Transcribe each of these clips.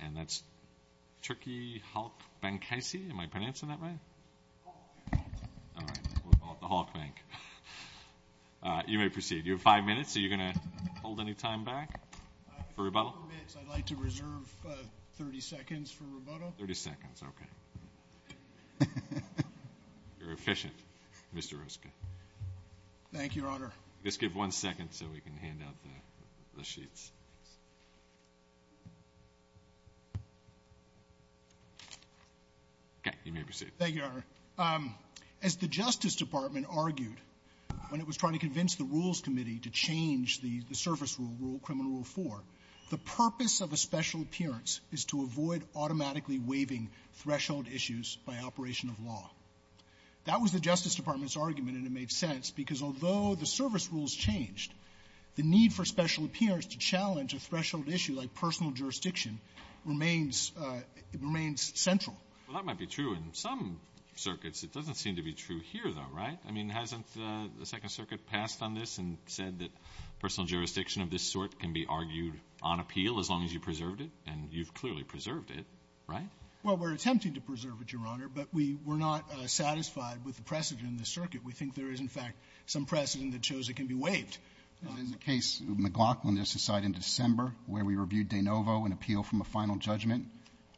And that's Turkiye Halk Bankasi, am I pronouncing that right? Halk Bankasi. All right, we'll call it the Halk Bank. You may proceed. You have five minutes. Are you going to hold any time back for rebuttal? I'd like to reserve 30 seconds for rebuttal. 30 seconds, OK. You're efficient, Mr. Ruska. Thank you, Your Honor. Just give one second so we can hand out the sheets. OK, you may proceed. Thank you, Your Honor. As the Justice Department argued when it was trying to convince the Rules Committee to change the service rule, Criminal Rule 4, the purpose of a special appearance is to avoid automatically waiving threshold issues by operation of law. That was the Justice Department's argument, and it made sense, because although the service rules changed, the need for special appearance to challenge a threshold issue like personal jurisdiction remains central. Well, that might be true in some circuits. It doesn't seem to be true here, though, right? I mean, hasn't the Second Circuit passed on this and said that personal jurisdiction of this sort can be argued on appeal as long as you preserved it? And you've clearly preserved it, right? Well, we're attempting to preserve it, Your Honor, but we were not satisfied with the precedent in the circuit. We think there is, in fact, some precedent that shows it can be waived. There's a case, McLaughlin, just decided in December, where we reviewed De Novo, an appeal from a final judgment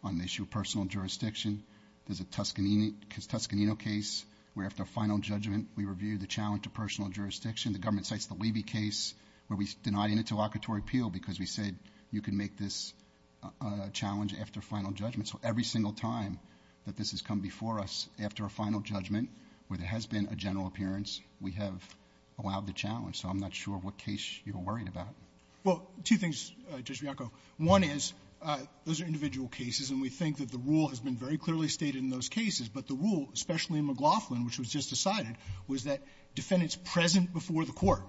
on the issue of personal jurisdiction. There's a Toscanino case where, after a final judgment, we reviewed the challenge to personal jurisdiction. The government cites the Levy case where we denied interlocutory appeal because we said you can make this a challenge after a final judgment. So every single time that this has come before us after a final judgment where there has been a general appearance, we have allowed the challenge. So I'm not sure what case you're worried about. Well, two things, Judge Bianco. One is, those are individual cases, and we think that the rule has been very clearly stated in those cases. But the rule, especially in McLaughlin, which was just decided, was that defendants present before the Court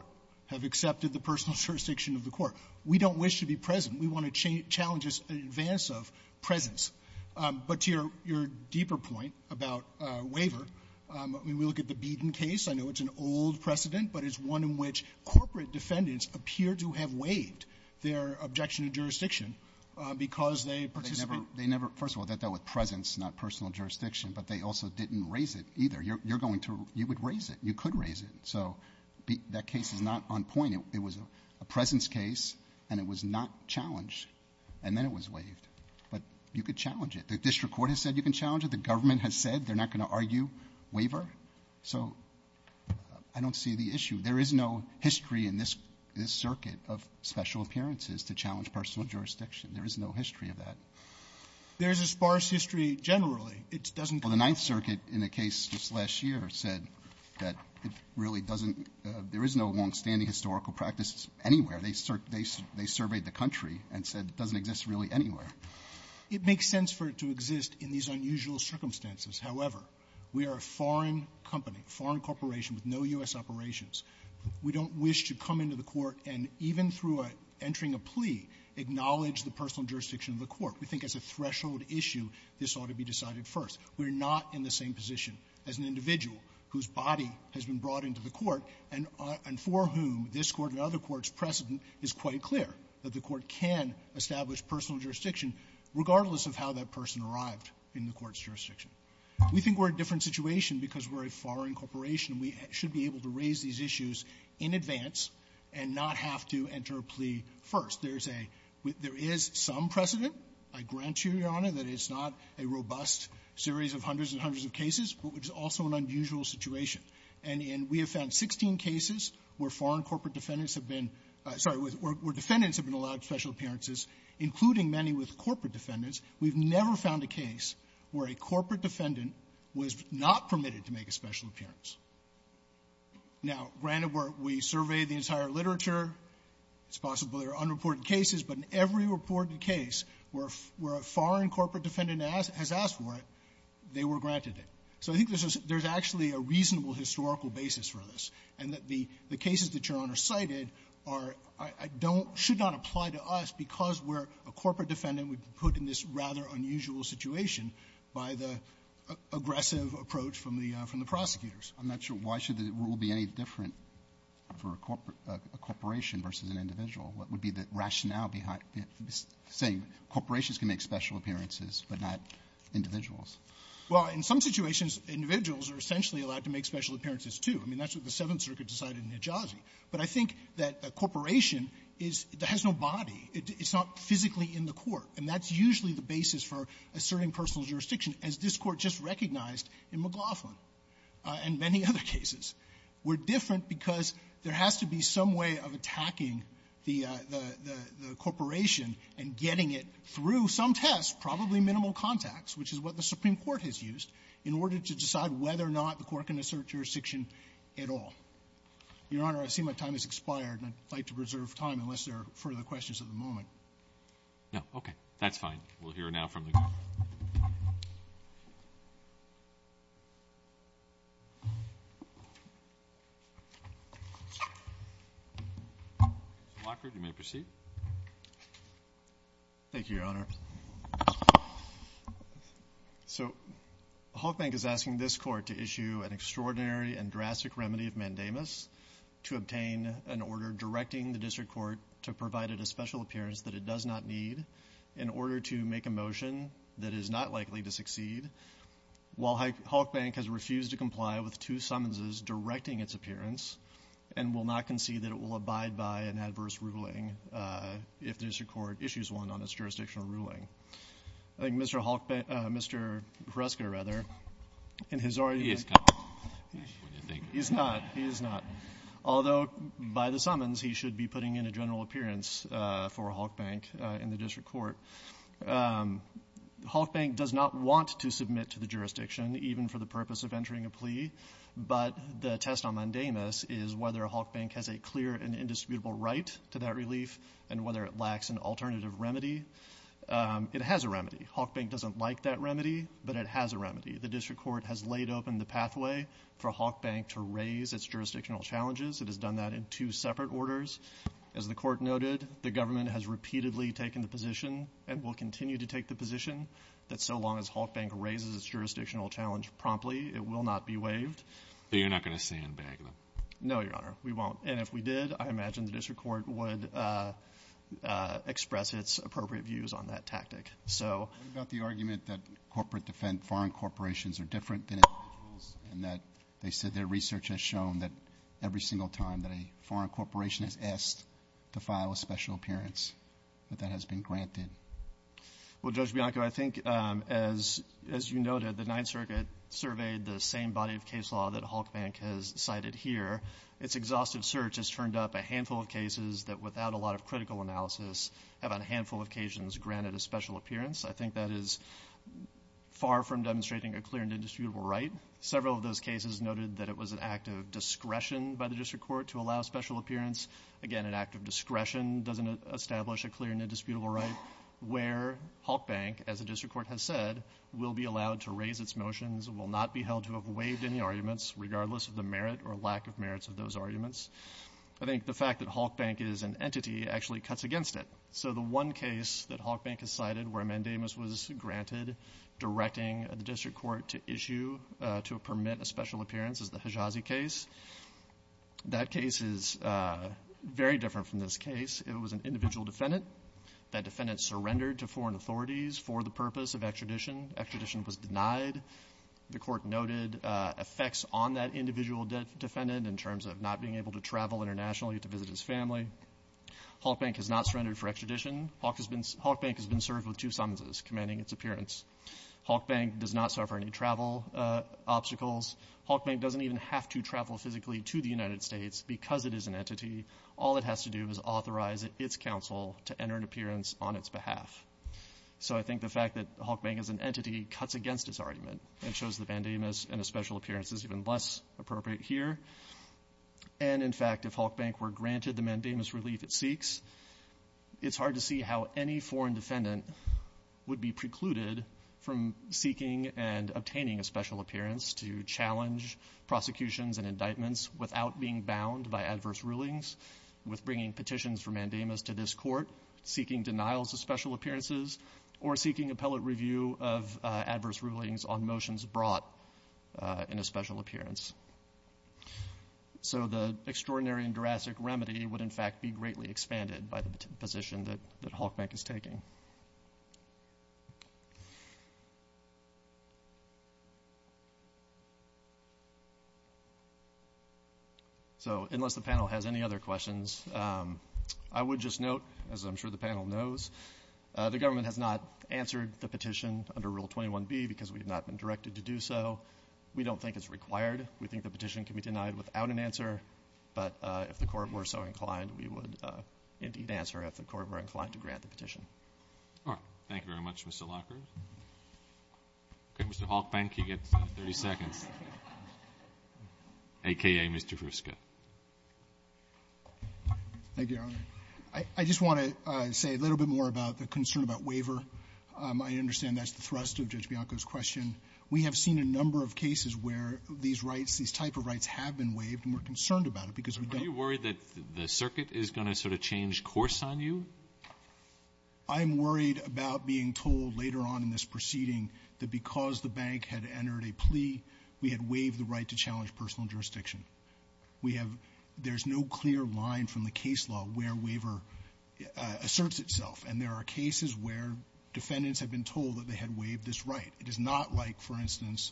have accepted the personal jurisdiction of the Court. We don't wish to be present. We want to challenge this in advance of presence. But to your deeper point about waiver, I mean, we look at the Beedon case. I know it's an old precedent, but it's one in which corporate defendants appear to have waived their objection to jurisdiction because they participate. They never – first of all, that dealt with presence, not personal jurisdiction. But they also didn't raise it either. You're going to – you would raise it. You could raise it. So that case is not on point. But you could challenge it. The district court has said you can challenge it. The government has said they're not going to argue waiver. So I don't see the issue. There is no history in this – this circuit of special appearances to challenge personal jurisdiction. There is no history of that. There is a sparse history generally. It doesn't – Well, the Ninth Circuit, in a case just last year, said that it really doesn't – there is no longstanding historical practice anywhere. They surveyed the country and said it doesn't exist really anywhere. It makes sense for it to exist in these unusual circumstances. However, we are a foreign company, foreign corporation with no U.S. operations. We don't wish to come into the court and, even through entering a plea, acknowledge the personal jurisdiction of the court. We think as a threshold issue, this ought to be decided first. We're not in the same position as an individual whose body has been brought into the court and for whom this court and other courts precedent is quite clear that the court can establish personal jurisdiction regardless of how that person arrived in the court's jurisdiction. We think we're a different situation because we're a foreign corporation. We should be able to raise these issues in advance and not have to enter a plea first. There's a – there is some precedent. I grant you, Your Honor, that it's not a robust series of hundreds and hundreds of cases, but it's also an unusual situation. And we have found 16 cases where foreign corporate defendants have been – sorry, where defendants have been allowed special appearances, including many with corporate defendants. We've never found a case where a corporate defendant was not permitted to make a special appearance. Now, granted, we surveyed the entire literature. It's possible there are unreported cases, but in every reported case where a foreign corporate defendant has asked for it, they were granted it. So I think there's actually a reasonable historical basis for this, and that the I don't – should not apply to us because we're a corporate defendant. We've been put in this rather unusual situation by the aggressive approach from the – from the prosecutors. I'm not sure. Why should the rule be any different for a corporation versus an individual? What would be the rationale behind saying corporations can make special appearances but not individuals? Well, in some situations, individuals are essentially allowed to make special appearances, too. I mean, that's what the Seventh Circuit decided in Nijazi. But I think that a corporation is – has no body. It's not physically in the court. And that's usually the basis for asserting personal jurisdiction, as this Court just recognized in McLaughlin and many other cases. We're different because there has to be some way of attacking the – the corporation and getting it through some test, probably minimal contacts, which is what the Supreme Court has used, in order to decide whether or not the Court can assert jurisdiction at all. Your Honor, I see my time has expired, and I'd like to preserve time unless there are further questions at the moment. No. Okay. That's fine. We'll hear now from the group. Mr. Lockhart, you may proceed. Thank you, Your Honor. So, the Holk Bank is asking this Court to issue an extraordinary and drastic remedy of mandamus to obtain an order directing the District Court to provide it a special appearance that it does not need, in order to make a motion that is not likely to succeed, while Holk Bank has refused to comply with two summonses directing its appearance and will not concede that it will abide by an adverse ruling if the District Court issues one on its jurisdictional ruling. I think Mr. Holk – Mr. Hruska, rather, in his already – He is not. He is not. He is not. Although, by the summons, he should be putting in a general appearance for Holk Bank in the District Court, Holk Bank does not want to submit to the jurisdiction, even for the purpose of entering a plea, but the test on mandamus is whether Holk Bank has a clear and indisputable right to that relief and whether it lacks an alternative remedy. It has a remedy. Holk Bank doesn't like that remedy, but it has a remedy. The District Court has laid open the pathway for Holk Bank to raise its jurisdictional challenges. It has done that in two separate orders. As the Court noted, the government has repeatedly taken the position and will continue to take the position that so long as Holk Bank raises its jurisdictional challenge promptly, it will not be waived. But you're not going to sandbag them? No, Your Honor. We won't. And if we did, I imagine the District Court would express its appropriate views on that tactic. What about the argument that foreign corporations are different than individuals and that their research has shown that every single time that a foreign corporation has asked to file a special appearance, that that has been granted? Well, Judge Bianco, I think, as you noted, the Ninth Circuit surveyed the same body of case law that Holk Bank has cited here. Its exhaustive search has turned up a handful of cases that without a lot of critical analysis have on a handful of occasions granted a special appearance. I think that is far from demonstrating a clear and indisputable right. Several of those cases noted that it was an act of discretion by the District Court to allow special appearance. Again, an act of discretion doesn't establish a clear and indisputable right where Holk Bank, as the District Court has said, will be allowed to raise its motions, will not be held to have waived any arguments regardless of the merit or lack of merits of those arguments. I think the fact that Holk Bank is an entity actually cuts against it. So the one case that Holk Bank has cited where a mandamus was granted directing the District Court to issue, to permit a special appearance, is the Hajazi case. That case is very different from this case. It was an individual defendant. That defendant surrendered to foreign authorities for the purpose of extradition. Extradition was denied. The Court noted effects on that individual defendant in terms of not being able to travel internationally to visit his family. Holk Bank has not surrendered for extradition. Holk Bank has been served with two sentences commanding its appearance. Holk Bank does not suffer any travel obstacles. Holk Bank doesn't even have to travel physically to the United States because it is an entity. All it has to do is authorize its counsel to enter an appearance on its behalf. So I think the fact that Holk Bank is an entity cuts against its argument and shows the mandamus and a special appearance is even less appropriate here. And in fact, if Holk Bank were granted the mandamus relief it seeks, it's hard to see how any foreign defendant would be precluded from seeking and obtaining a special appearance to challenge prosecutions and indictments without being bound by adverse rulings. With bringing petitions for mandamus to this Court, seeking denials of special appearances, or seeking appellate review of adverse rulings on motions brought in a special appearance. So the extraordinary and drastic remedy would in fact be greatly expanded by the position that Holk Bank is taking. So, unless the panel has any other questions, I would just note, as I'm sure the panel knows, the government has not answered the petition under Rule 21B because we have not been directed to do so. We don't think it's required. We think the petition can be denied without an answer. But if the Court were so inclined, we would indeed answer if the Court were inclined to do so. Roberts. Thank you very much, Mr. Lockhart. Mr. Holkbank, you get 30 seconds, a.k.a. Mr. Hruska. Thank you, Your Honor. I just want to say a little bit more about the concern about waiver. I understand that's the thrust of Judge Bianco's question. We have seen a number of cases where these rights, these type of rights have been waived and we're concerned about it because we don't know the answer. Are you worried that the circuit is going to sort of change course on you? I'm worried about being told later on in this proceeding that because the bank had entered a plea, we had waived the right to challenge personal jurisdiction. We have — there's no clear line from the case law where waiver asserts itself. And there are cases where defendants have been told that they had waived this right. It is not like, for instance,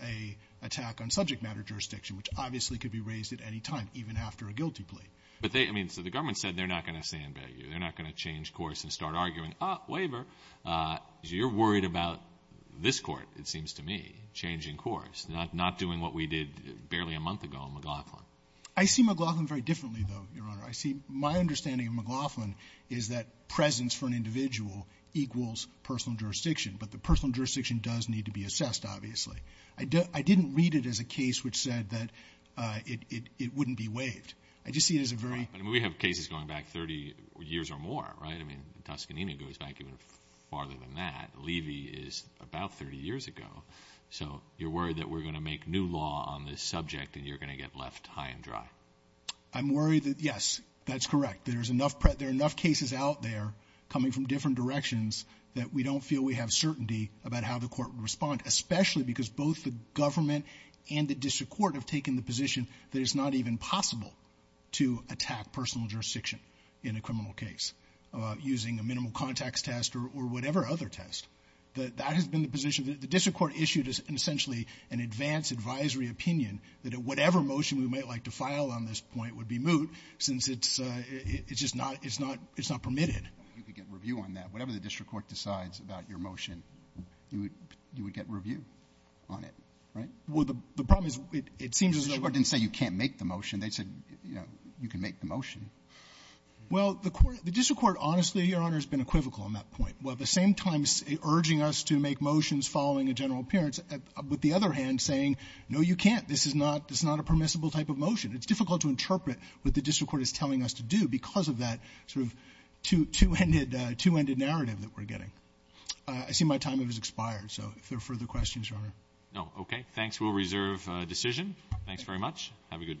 an attack on subject matter jurisdiction, which obviously could be raised at any time, even after a guilty plea. But they — I mean, so the government said they're not going to stand by you. They're not going to change course and start arguing, oh, waiver. You're worried about this court, it seems to me, changing course, not doing what we did barely a month ago on McLaughlin. I see McLaughlin very differently, though, Your Honor. I see — my understanding of McLaughlin is that presence for an individual equals personal jurisdiction. But the personal jurisdiction does need to be assessed, obviously. I didn't read it as a case which said that it wouldn't be waived. I just see it as a very — But we have cases going back 30 years or more, right? I mean, Tuscany goes back even farther than that. Levy is about 30 years ago. So you're worried that we're going to make new law on this subject and you're going to get left high and dry. I'm worried that — yes, that's correct. There's enough — there are enough cases out there coming from different directions that we don't feel we have certainty about how the court would respond, especially because both the government and the district court have taken the position that it's not even possible to attack personal jurisdiction in a criminal case using a minimal contacts test or whatever other test. That has been the position — the district court issued essentially an advance advisory opinion that whatever motion we might like to file on this point would be moot since it's just not — it's not permitted. You could get review on that. Whatever the district court decides about your motion, you would get review on it, right? Well, the problem is it seems as though — I mean, they said, you know, you can make the motion. Well, the court — the district court, honestly, Your Honor, has been equivocal on that point. While at the same time urging us to make motions following a general appearance, with the other hand saying, no, you can't, this is not — this is not a permissible type of motion. It's difficult to interpret what the district court is telling us to do because of that sort of two-ended — two-ended narrative that we're getting. I see my time has expired. So if there are further questions, Your Honor. No. Okay. Thanks. We'll reserve decision. Thanks very much. Have a good day.